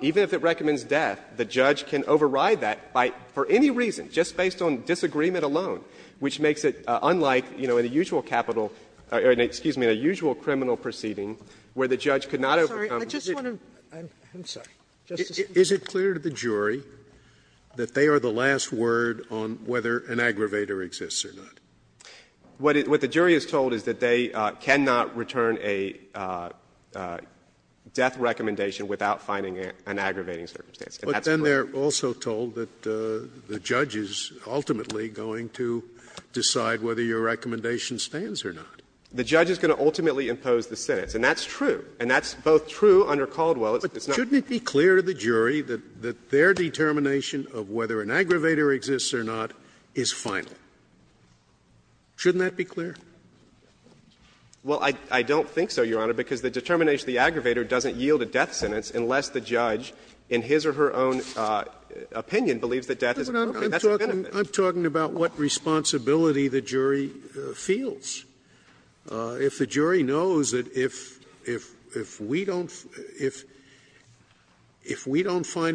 even if it recommends death, the judge can override that by, for any reason, just based on disagreement alone, which makes it unlike, you know, in a usual capital or, excuse me, in a usual criminal proceeding where the judge could not overcome the judge. Sotomayor, I just want to, I'm sorry, Justice Kagan. Scalia, is it clear to the jury that they are the last word on whether an aggravator exists or not? What the jury is told is that they cannot return a death recommendation without finding an aggravating circumstance. And that's correct. But then they're also told that the judge is ultimately going to decide whether your recommendation stands or not. The judge is going to ultimately impose the sentence, and that's true. And that's both true under Caldwell. But shouldn't it be clear to the jury that their determination of whether an aggravator exists or not is final? Shouldn't that be clear? Well, I don't think so, Your Honor, because the determination of the aggravator doesn't yield a death sentence unless the judge, in his or her own opinion, believes that death is a personal benefit. I'm talking about what responsibility the jury feels. If the jury knows that if we don't find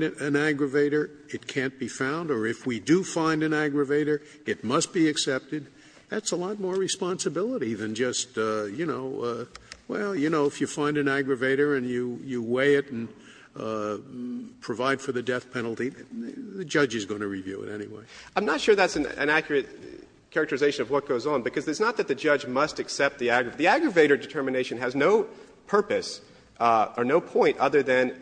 an aggravator, it can't be found, or if we do find an aggravator, it must be accepted, that's a lot more responsibility than just, you know, well, you know, if you find an aggravator and you weigh it and provide for the death penalty, the judge is going to review it anyway. I'm not sure that's an accurate characterization of what goes on, because it's not that the judge must accept the aggravator. The aggravator determination has no purpose or no point other than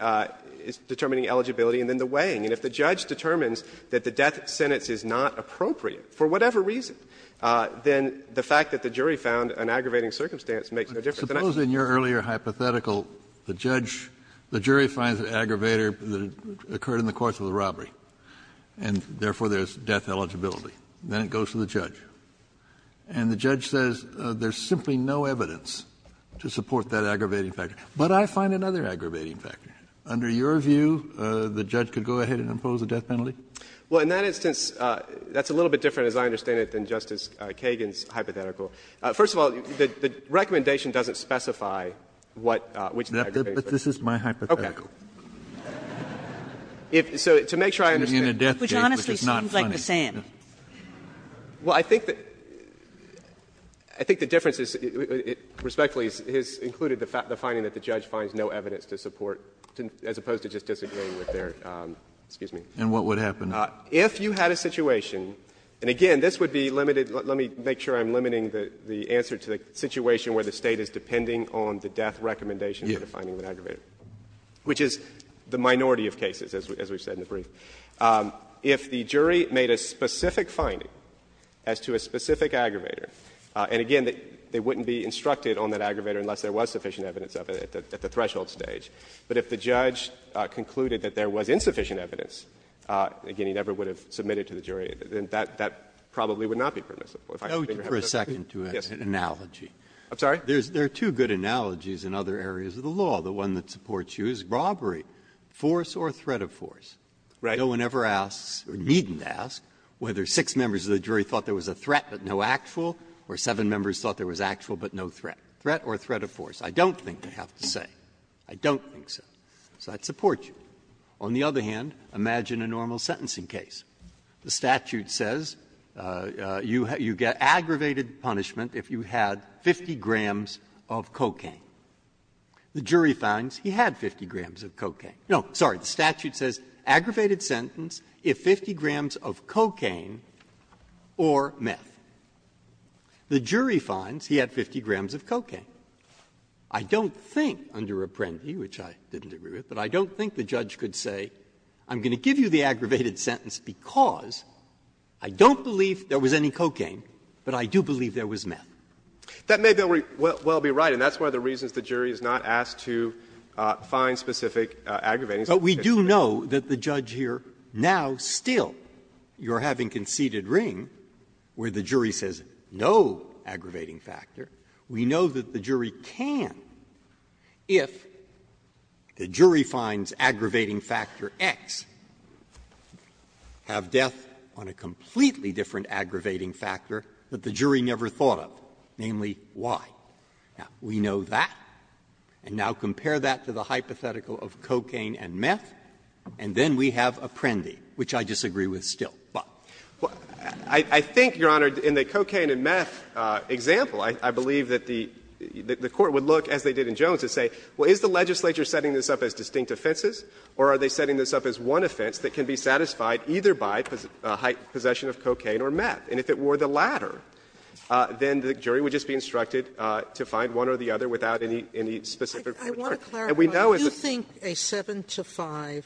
determining eligibility and then the weighing. And if the judge determines that the death sentence is not appropriate, for whatever reason, then the fact that the jury found an aggravating circumstance makes no difference. Kennedy, I suppose in your earlier hypothetical, the judge, the jury finds an aggravator that occurred in the course of the robbery, and therefore, there's death eligibility. Then it goes to the judge, and the judge says there's simply no evidence to support that aggravating factor, but I find another aggravating factor. Under your view, the judge could go ahead and impose a death penalty? Well, in that instance, that's a little bit different, as I understand it, than Justice Kagan's hypothetical. First of all, the recommendation doesn't specify what the aggravating factor is. But this is my hypothetical. Okay. So to make sure I understand it. Which honestly seems like the same. Well, I think that the difference is, respectfully, has included the fact, the finding that the judge finds no evidence to support, as opposed to just disagreeing with their, excuse me. And what would happen? If you had a situation, and again, this would be limited, let me make sure I'm limiting the answer to the situation where the State is depending on the death recommendation for the finding of an aggravator, which is the minority of cases, as we've said in the brief. If the jury made a specific finding as to a specific aggravator, and again, they wouldn't be instructed on that aggravator unless there was sufficient evidence of it at the threshold stage. But if the judge concluded that there was insufficient evidence, again, he never would have submitted to the jury, then that probably would not be permissive. Breyer, if I may interject. Roberts, for a second, to an analogy. I'm sorry? There are two good analogies in other areas of the law. The one that supports you is robbery, force or threat of force. Right. No one ever asks, or needn't ask, whether six members of the jury thought there was a threat but no actual, or seven members thought there was actual but no threat. Threat or threat of force. I don't think they have to say. I don't think so. So that supports you. On the other hand, imagine a normal sentencing case. The statute says you get aggravated punishment if you had 50 grams of cocaine. The jury finds he had 50 grams of cocaine. No, sorry. The statute says aggravated sentence if 50 grams of cocaine or meth. The jury finds he had 50 grams of cocaine. I don't think, under Apprendi, which I didn't agree with, but I don't think the judge could say, I'm going to give you the aggravated sentence because I don't believe there was any cocaine, but I do believe there was meth. That may very well be right, and that's one of the reasons the jury is not asked to find specific aggravatings. But we do know that the judge here, now, still, you're having conceded ring where the jury says no aggravating factor. We know that the jury can, if the jury finds aggravating factor X, have death on a completely different aggravating factor that the jury never thought of, namely Y. Now, we know that, and now compare that to the hypothetical of cocaine and meth, and then we have Apprendi, which I disagree with still. But I think, Your Honor, in the cocaine and meth example, I believe that the Court would look, as they did in Jones, and say, well, is the legislature setting this up as distinct offenses, or are they setting this up as one offense that can be satisfied either by possession of cocaine or meth? And if it were the latter, then the jury would just be instructed to find one or the other without any specific concern. And we know as a jury that the jury would find one or the other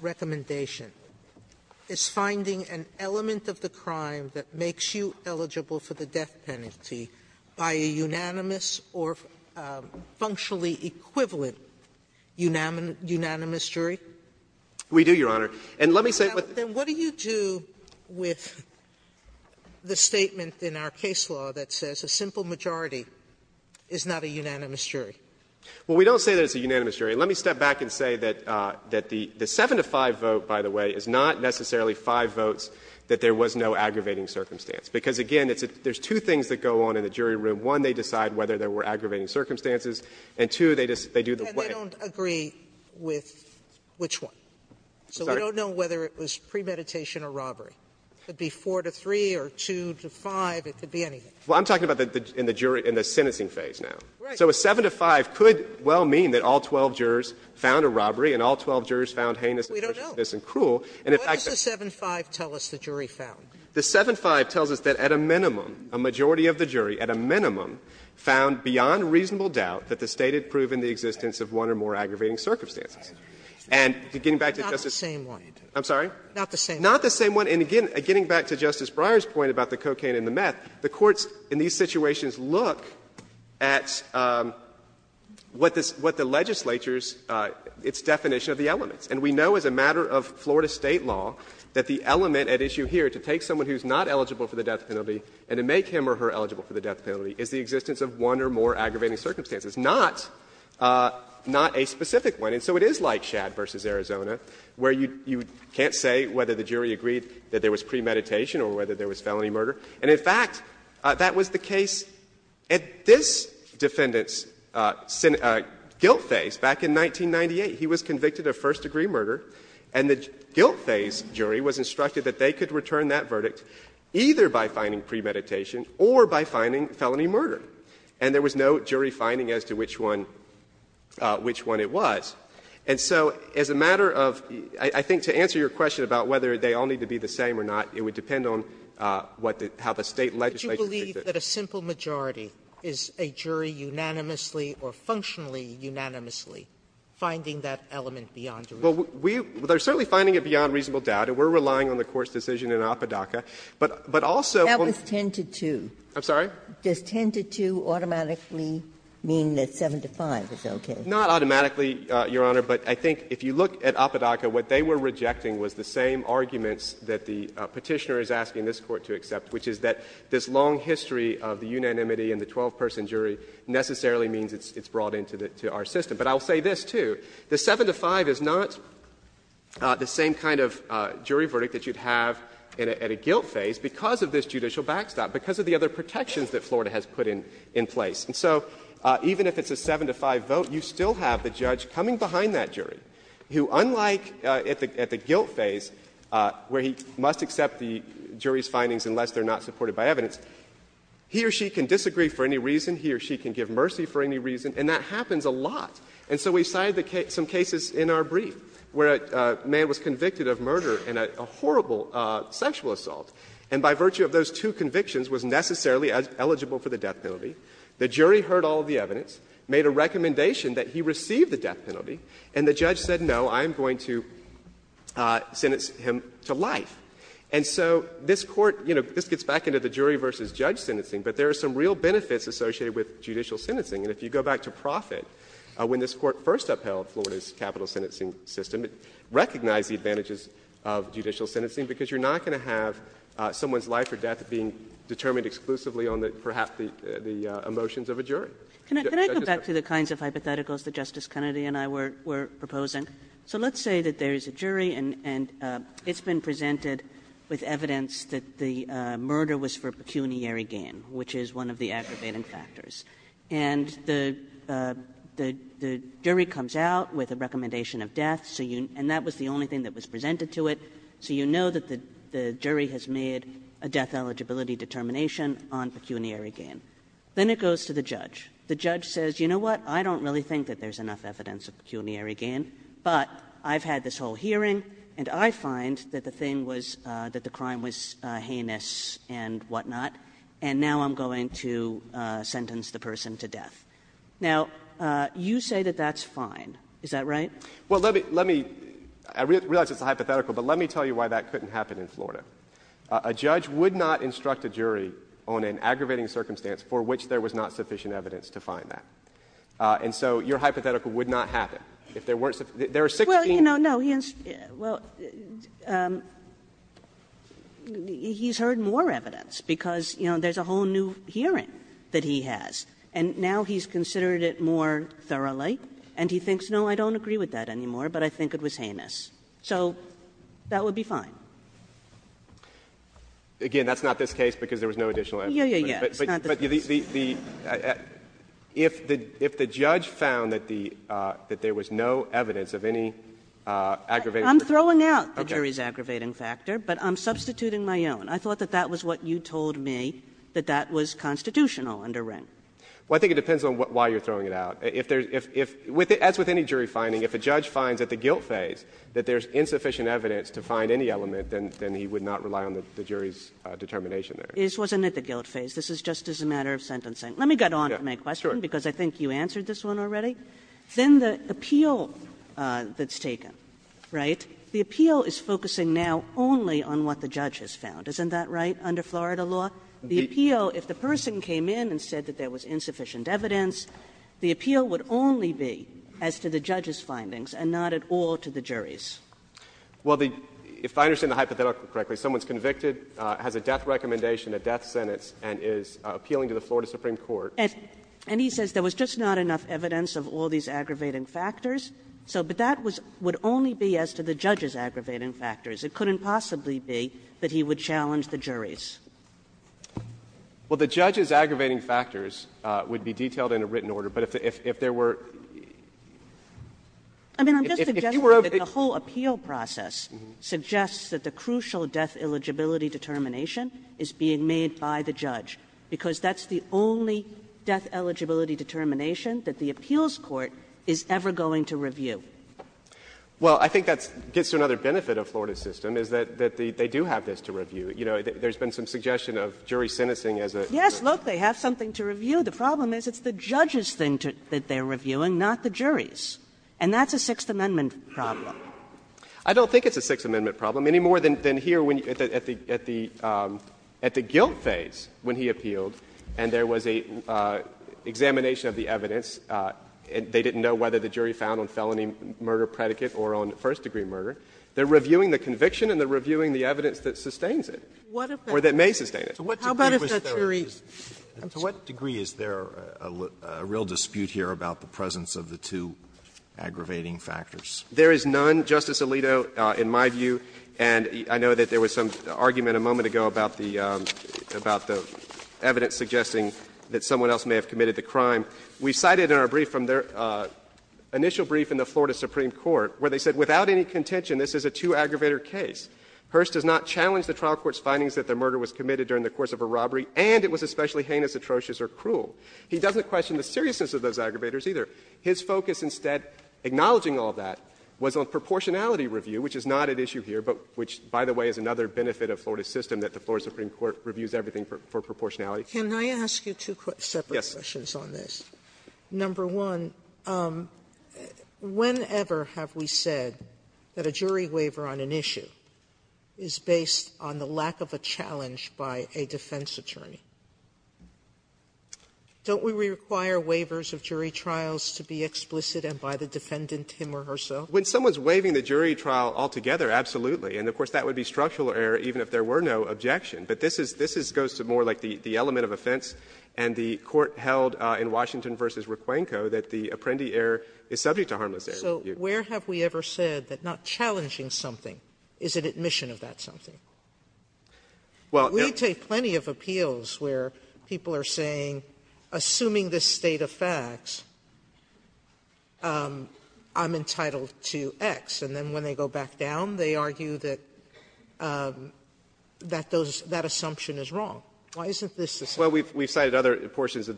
without any specific concern. Sotomayor, is there an element of the crime that makes you eligible for the death penalty by a unanimous or functionally equivalent unanimous jury? We do, Your Honor. And let me say with the What do you do with the statement in our case law that says a simple majority is not a unanimous jury? Well, we don't say that it's a unanimous jury. Let me step back and say that the 7-to-5 vote, by the way, is not necessarily 5 votes that there was no aggravating circumstance, because, again, there's two things that go on in the jury room. One, they decide whether there were aggravating circumstances, and two, they do the play. Sotomayor, and they don't agree with which one? So we don't know whether it was premeditation or robbery. It could be 4-to-3 or 2-to-5. It could be anything. Well, I'm talking about in the jury, in the sentencing phase now. Right. So a 7-to-5 could well mean that all 12 jurors found a robbery and all 12 jurors found heinous and vicious and cruel. And in fact, the 7-to-5 tells us that at a minimum, a majority of the jury, at a minimum, found beyond reasonable doubt that the State had proven the existence of one or more aggravating circumstances. And getting back to Justice Sotomayor's point about the cocaine and the meth, the And we know as a matter of Florida State law that the element at issue here, to take someone who is not eligible for the death penalty and to make him or her eligible for the death penalty, is the existence of one or more aggravating circumstances, not a specific one. And so it is like Schad v. Arizona, where you can't say whether the jury agreed that there was premeditation or whether there was felony murder. And in fact, that was the case at this defendant's guilt phase back in 1998. He was convicted of first-degree murder, and the guilt phase jury was instructed that they could return that verdict either by finding premeditation or by finding felony murder. And there was no jury finding as to which one it was. And so as a matter of, I think to answer your question about whether they all need to be the same or not, it would depend on what the state legislation. Sotomayor's Would you believe that a simple majority is a jury unanimously or functionally unanimously finding that element beyond reasonable doubt? Well, we are certainly finding it beyond reasonable doubt. We are relying on the court's decision in Appadaka, but also That was 10-2. I'm sorry? Does 10-2 automatically mean that 7-5 is okay? Not automatically, Your Honor. But I think if you look at Appadaka, what they were rejecting was the same arguments that the Petitioner is asking this Court to accept, which is that this long history of the unanimity in the 12-person jury necessarily means it's brought into our system. But I'll say this, too. The 7-5 is not the same kind of jury verdict that you'd have at a guilt phase because of this judicial backstop, because of the other protections that Florida has put in place. And so even if it's a 7-5 vote, you still have the judge coming behind that jury, who unlike at the guilt phase where he must accept the jury's findings unless they are not supported by evidence, he or she can disagree for any reason, he or she can give mercy for any reason, and that happens a lot. And so we cited some cases in our brief where a man was convicted of murder and a horrible sexual assault, and by virtue of those two convictions was necessarily eligible for the death penalty. The jury heard all of the evidence, made a recommendation that he receive the death penalty, and the judge said, no, I'm going to sentence him to life. And so this Court, you know, this gets back into the jury versus judge sentencing, but there are some real benefits associated with judicial sentencing. And if you go back to Profitt, when this Court first upheld Florida's capital sentencing system, it recognized the advantages of judicial sentencing, because you're not going to have someone's life or death being determined exclusively on the, perhaps the emotions of a jury. Justice Kagan. Kagan Can I go back to the kinds of hypotheticals that Justice Kennedy and I were proposing? So let's say that there is a jury and it's been presented with evidence that the murder was for pecuniary gain, which is one of the aggravating factors. And the jury comes out with a recommendation of death, so you and that was the only thing that was presented to it, so you know that the jury has made a death eligibility determination on pecuniary gain. Then it goes to the judge. The judge says, you know what, I don't really think that there's enough evidence of pecuniary gain, but I've had this whole hearing and I find that the thing was, that the crime was heinous and whatnot, and now I'm going to sentence the person to death. Now, you say that that's fine, is that right? Well, let me, let me, I realize it's a hypothetical, but let me tell you why that couldn't happen in Florida. A judge would not instruct a jury on an aggravating circumstance for which there was not sufficient evidence to find that. And so your hypothetical would not happen if there weren't, there are 16. Well, you know, no, he has, well, he's heard more evidence because, you know, there's a whole new hearing that he has, and now he's considered it more thoroughly, and he thinks, no, I don't agree with that anymore, but I think it was heinous. So that would be fine. Again, that's not this case because there was no additional evidence. Yeah, yeah, yeah. It's not this case. But the, if the judge found that the, that there was no evidence of any aggravating circumstances. I'm throwing out the jury's aggravating factor, but I'm substituting my own. I thought that that was what you told me, that that was constitutional under Ring. Well, I think it depends on why you're throwing it out. If there's, if, as with any jury finding, if a judge finds at the guilt phase that there's insufficient evidence to find any element, then he would not rely on the jury's determination there. This wasn't at the guilt phase. This is just as a matter of sentencing. Let me get on to my question, because I think you answered this one already. Then the appeal that's taken, right, the appeal is focusing now only on what the judge has found. Isn't that right, under Florida law? The appeal, if the person came in and said that there was insufficient evidence, the appeal would only be as to the judge's findings and not at all to the jury's. Well, the, if I understand the hypothetical correctly, someone's convicted, has a death recommendation, a death sentence, and is appealing to the Florida Supreme Court. And he says there was just not enough evidence of all these aggravating factors. So, but that was, would only be as to the judge's aggravating factors. It couldn't possibly be that he would challenge the jury's. Well, the judge's aggravating factors would be detailed in a written order. But if there were, if you were over. Kagan I mean, I'm just suggesting that the whole appeal process suggests that the crucial death eligibility determination is being made by the judge, because that's the only death eligibility determination that the appeals court is ever going to review. Well, I think that gets to another benefit of Florida's system, is that they do have this to review. You know, there's been some suggestion of jury sentencing as a. Kagan Yes, look, they have something to review. The problem is it's the judge's thing that they're reviewing, not the jury's. And that's a Sixth Amendment problem. I don't think it's a Sixth Amendment problem, any more than here when, at the, at the, at the guilt phase when he appealed and there was a examination of the evidence, they didn't know whether the jury found on felony murder predicate or on first-degree murder. They're reviewing the conviction and they're reviewing the evidence that sustains it. Or that may sustain it. Sotomayor How about if that's jury? Roberts To what degree is there a real dispute here about the presence of the two aggravating factors? Kagan There is none, Justice Alito, in my view, and I know that there was some argument a moment ago about the, about the evidence suggesting that someone else may have committed the crime. We cited in our brief from their initial brief in the Florida Supreme Court where they said, without any contention, this is a two-aggravator case. Hearst does not challenge the trial court's findings that the murder was committed during the course of a robbery, and it was especially heinous, atrocious, or cruel. He doesn't question the seriousness of those aggravators, either. His focus instead, acknowledging all that, was on proportionality review, which is not at issue here, but which, by the way, is another benefit of Florida's system, that the Florida Supreme Court reviews everything for proportionality. Can I ask you two separate questions on this? Roberts Yes. Sotomayor Number one, whenever have we said that a jury waiver on an issue is based on the lack of a challenge by a defense attorney? Don't we require waivers of jury trials to be explicit and by the defendant, him or herself? Hearst When someone is waiving the jury trial altogether, absolutely, and of course that would be structural error even if there were no objection. But this is goes to more like the element of offense, and the court held in Washington v. Requenco that the apprendee error is subject to harmless error. Sotomayor So where have we ever said that not challenging something is an admission Hearst Well, no. Sotomayor We take plenty of appeals where people are saying, assuming this state of facts, I'm entitled to X. And then when they go back down, they argue that that assumption is wrong. Why isn't this the same? Hearst Well, we've cited other portions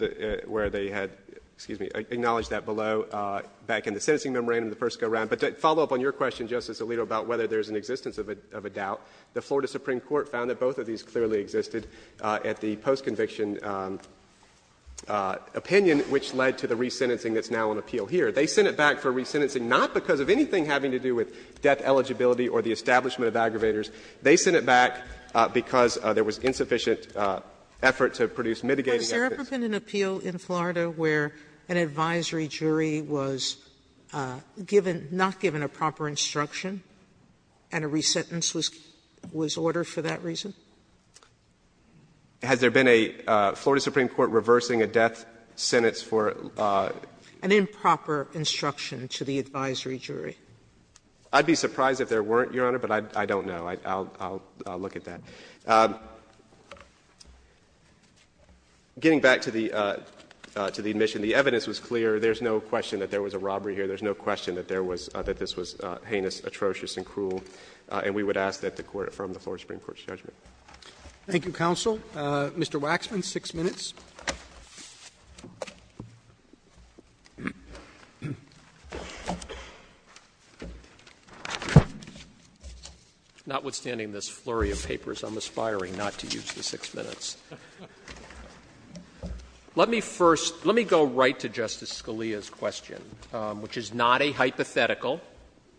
where they had, excuse me, acknowledged that below back in the sentencing memorandum, the first go-round. But to follow up on your question, Justice Alito, about whether there's an existence of a doubt, the Florida Supreme Court found that both of these clearly existed at the post-conviction opinion, which led to the resentencing that's now on appeal here. They sent it back for resentencing not because of anything having to do with death eligibility or the establishment of aggravators. They sent it back because there was insufficient effort to produce mitigating evidence. Sotomayor Has there ever been an appeal in Florida where an advisory jury was given not given a proper instruction and a resentence was ordered for that reason? Hearst Has there been a Florida Supreme Court reversing a death sentence for an improper instruction to the advisory jury? I'd be surprised if there weren't, Your Honor, but I don't know. I'll look at that. Getting back to the admission, the evidence was clear. There's no question that there was a robbery here. There's no question that there was that this was heinous, atrocious, and cruel. And we would ask that the Court affirm the Florida Supreme Court's judgment. Roberts Thank you, counsel. Mr. Waxman, 6 minutes. Waxman Notwithstanding this flurry of papers, I'm aspiring not to use the 6 minutes. Let me first go right to Justice Scalia's question, which is not a hypothetical,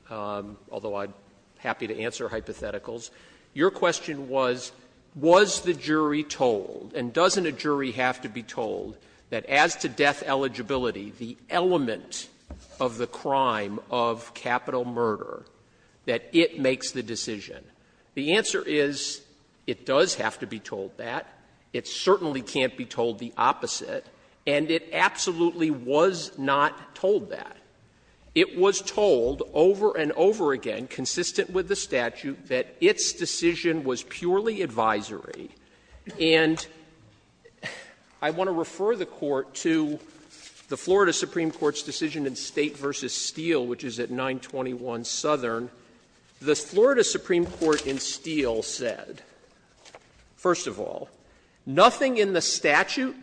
although I'm happy to answer hypotheticals. Your question was, was the jury told, and doesn't a jury have to be told, that as to death eligibility, the element of the crime of capital murder, that it makes the decision? The answer is, it does have to be told that. It certainly can't be told the opposite, and it absolutely was not told that. It was told over and over again, consistent with the statute, that its decision was purely advisory. And I want to refer the Court to the Florida Supreme Court's decision in State v. Steele, which is at 921 Southern. The Florida Supreme Court in Steele said, first of all, nothing in the statute,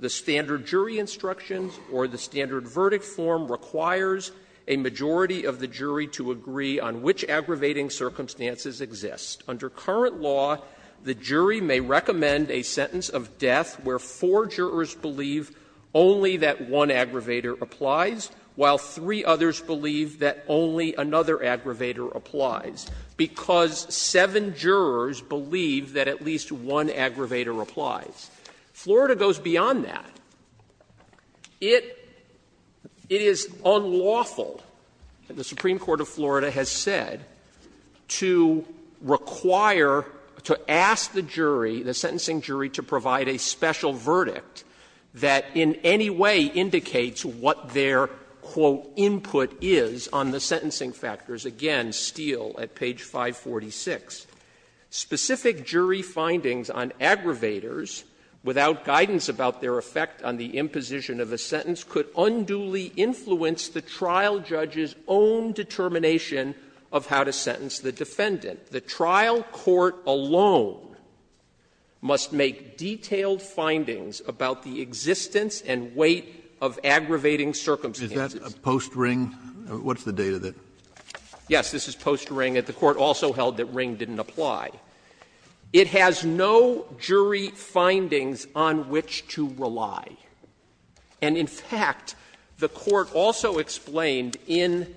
the standard jury instructions, or the standard verdict form, requires a majority of the jury to agree on which aggravating circumstances exist. Under current law, the jury may recommend a sentence of death where four jurors believe only that one aggravator applies, while three others believe that only another aggravator applies, because seven jurors believe that at least one aggravator applies. Florida goes beyond that. It is unlawful, the Supreme Court of Florida has said, to require, to ask the jury, the sentencing jury, to provide a special verdict that in any way indicates what their, quote, input is on the sentencing factors. Again, Steele at page 546. Specific jury findings on aggravators without guidance about their effect on the imposition of a sentence could unduly influence the trial judge's own determination of how to sentence the defendant. The trial court alone must make detailed findings about the existence and weight of aggravating circumstances. Kennedy, is that a post-Ring? What's the date of it? Waxman, Yes. This is post-Ring. The court also held that Ring didn't apply. It has no jury findings on which to rely. And in fact, the court also explained in,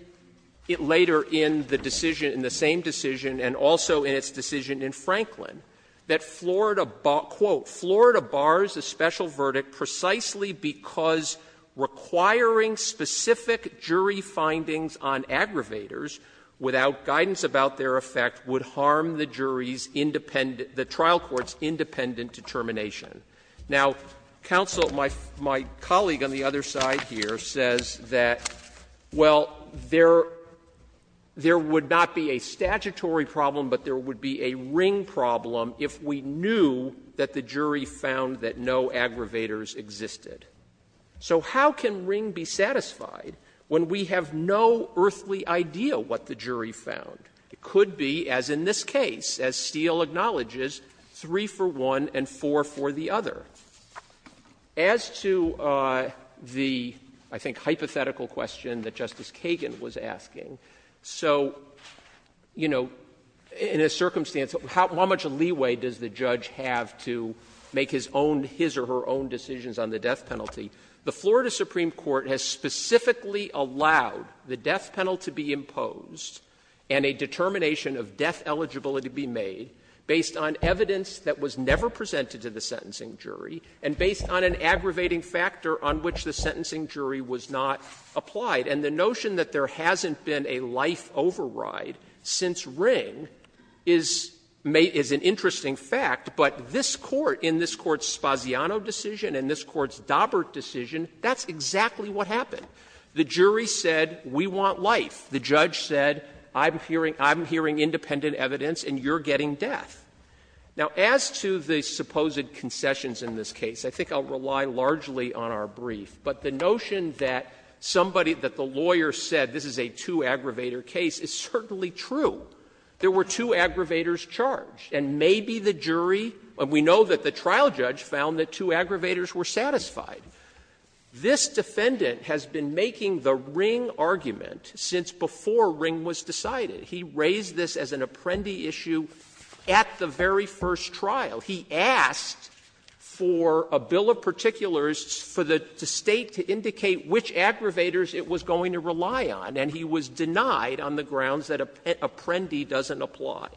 later in the decision, in the same decision and also in its decision in Franklin, that Florida, quote, Florida bars a special verdict precisely because requiring specific jury findings on aggravators without guidance about their effect would harm the jury's independent, the trial court's independent determination. Now, counsel, my colleague on the other side here says that, well, there would not be a statutory problem, but there would be a Ring problem if we knew that the jury found that no aggravators existed. So how can Ring be satisfied when we have no earthly idea what aggravators are and what the jury found? It could be, as in this case, as Steele acknowledges, 3 for one and 4 for the other. As to the, I think, hypothetical question that Justice Kagan was asking, so, you know, in a circumstance, how much leeway does the judge have to make his own, his or her own decisions on the death penalty? The Florida Supreme Court has specifically allowed the death penalty to be imposed and a determination of death eligibility to be made based on evidence that was never presented to the sentencing jury and based on an aggravating factor on which the sentencing jury was not applied. And the notion that there hasn't been a life override since Ring is an interesting fact, but this Court, in this Court's Spaziano decision and this Court's Daubert decision, that's exactly what happened. The jury said, we want life. The judge said, I'm hearing independent evidence and you're getting death. Now, as to the supposed concessions in this case, I think I'll rely largely on our brief, but the notion that somebody, that the lawyer said this is a two-aggravator case is certainly true. There were two aggravators charged, and maybe the jury, we know that the trial judge found that two aggravators were satisfied. This defendant has been making the Ring argument since before Ring was decided. He raised this as an apprendee issue at the very first trial. He asked for a bill of particulars for the State to indicate which aggravators it was going to rely on, and he was denied on the grounds that apprendee doesn't apply.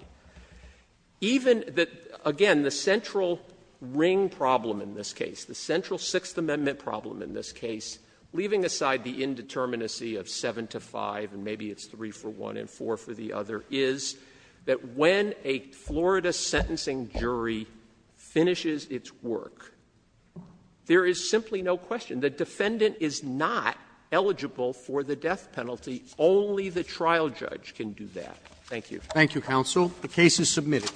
Even the, again, the central Ring problem in this case, the central Sixth Amendment problem in this case, leaving aside the indeterminacy of 7 to 5, and maybe it's 3 for one and 4 for the other, is that when a Florida sentencing jury finishes its work, there is simply no question. The defendant is not eligible for the death penalty. Only the trial judge can do that. Thank you. Thank you, counsel. The case is submitted.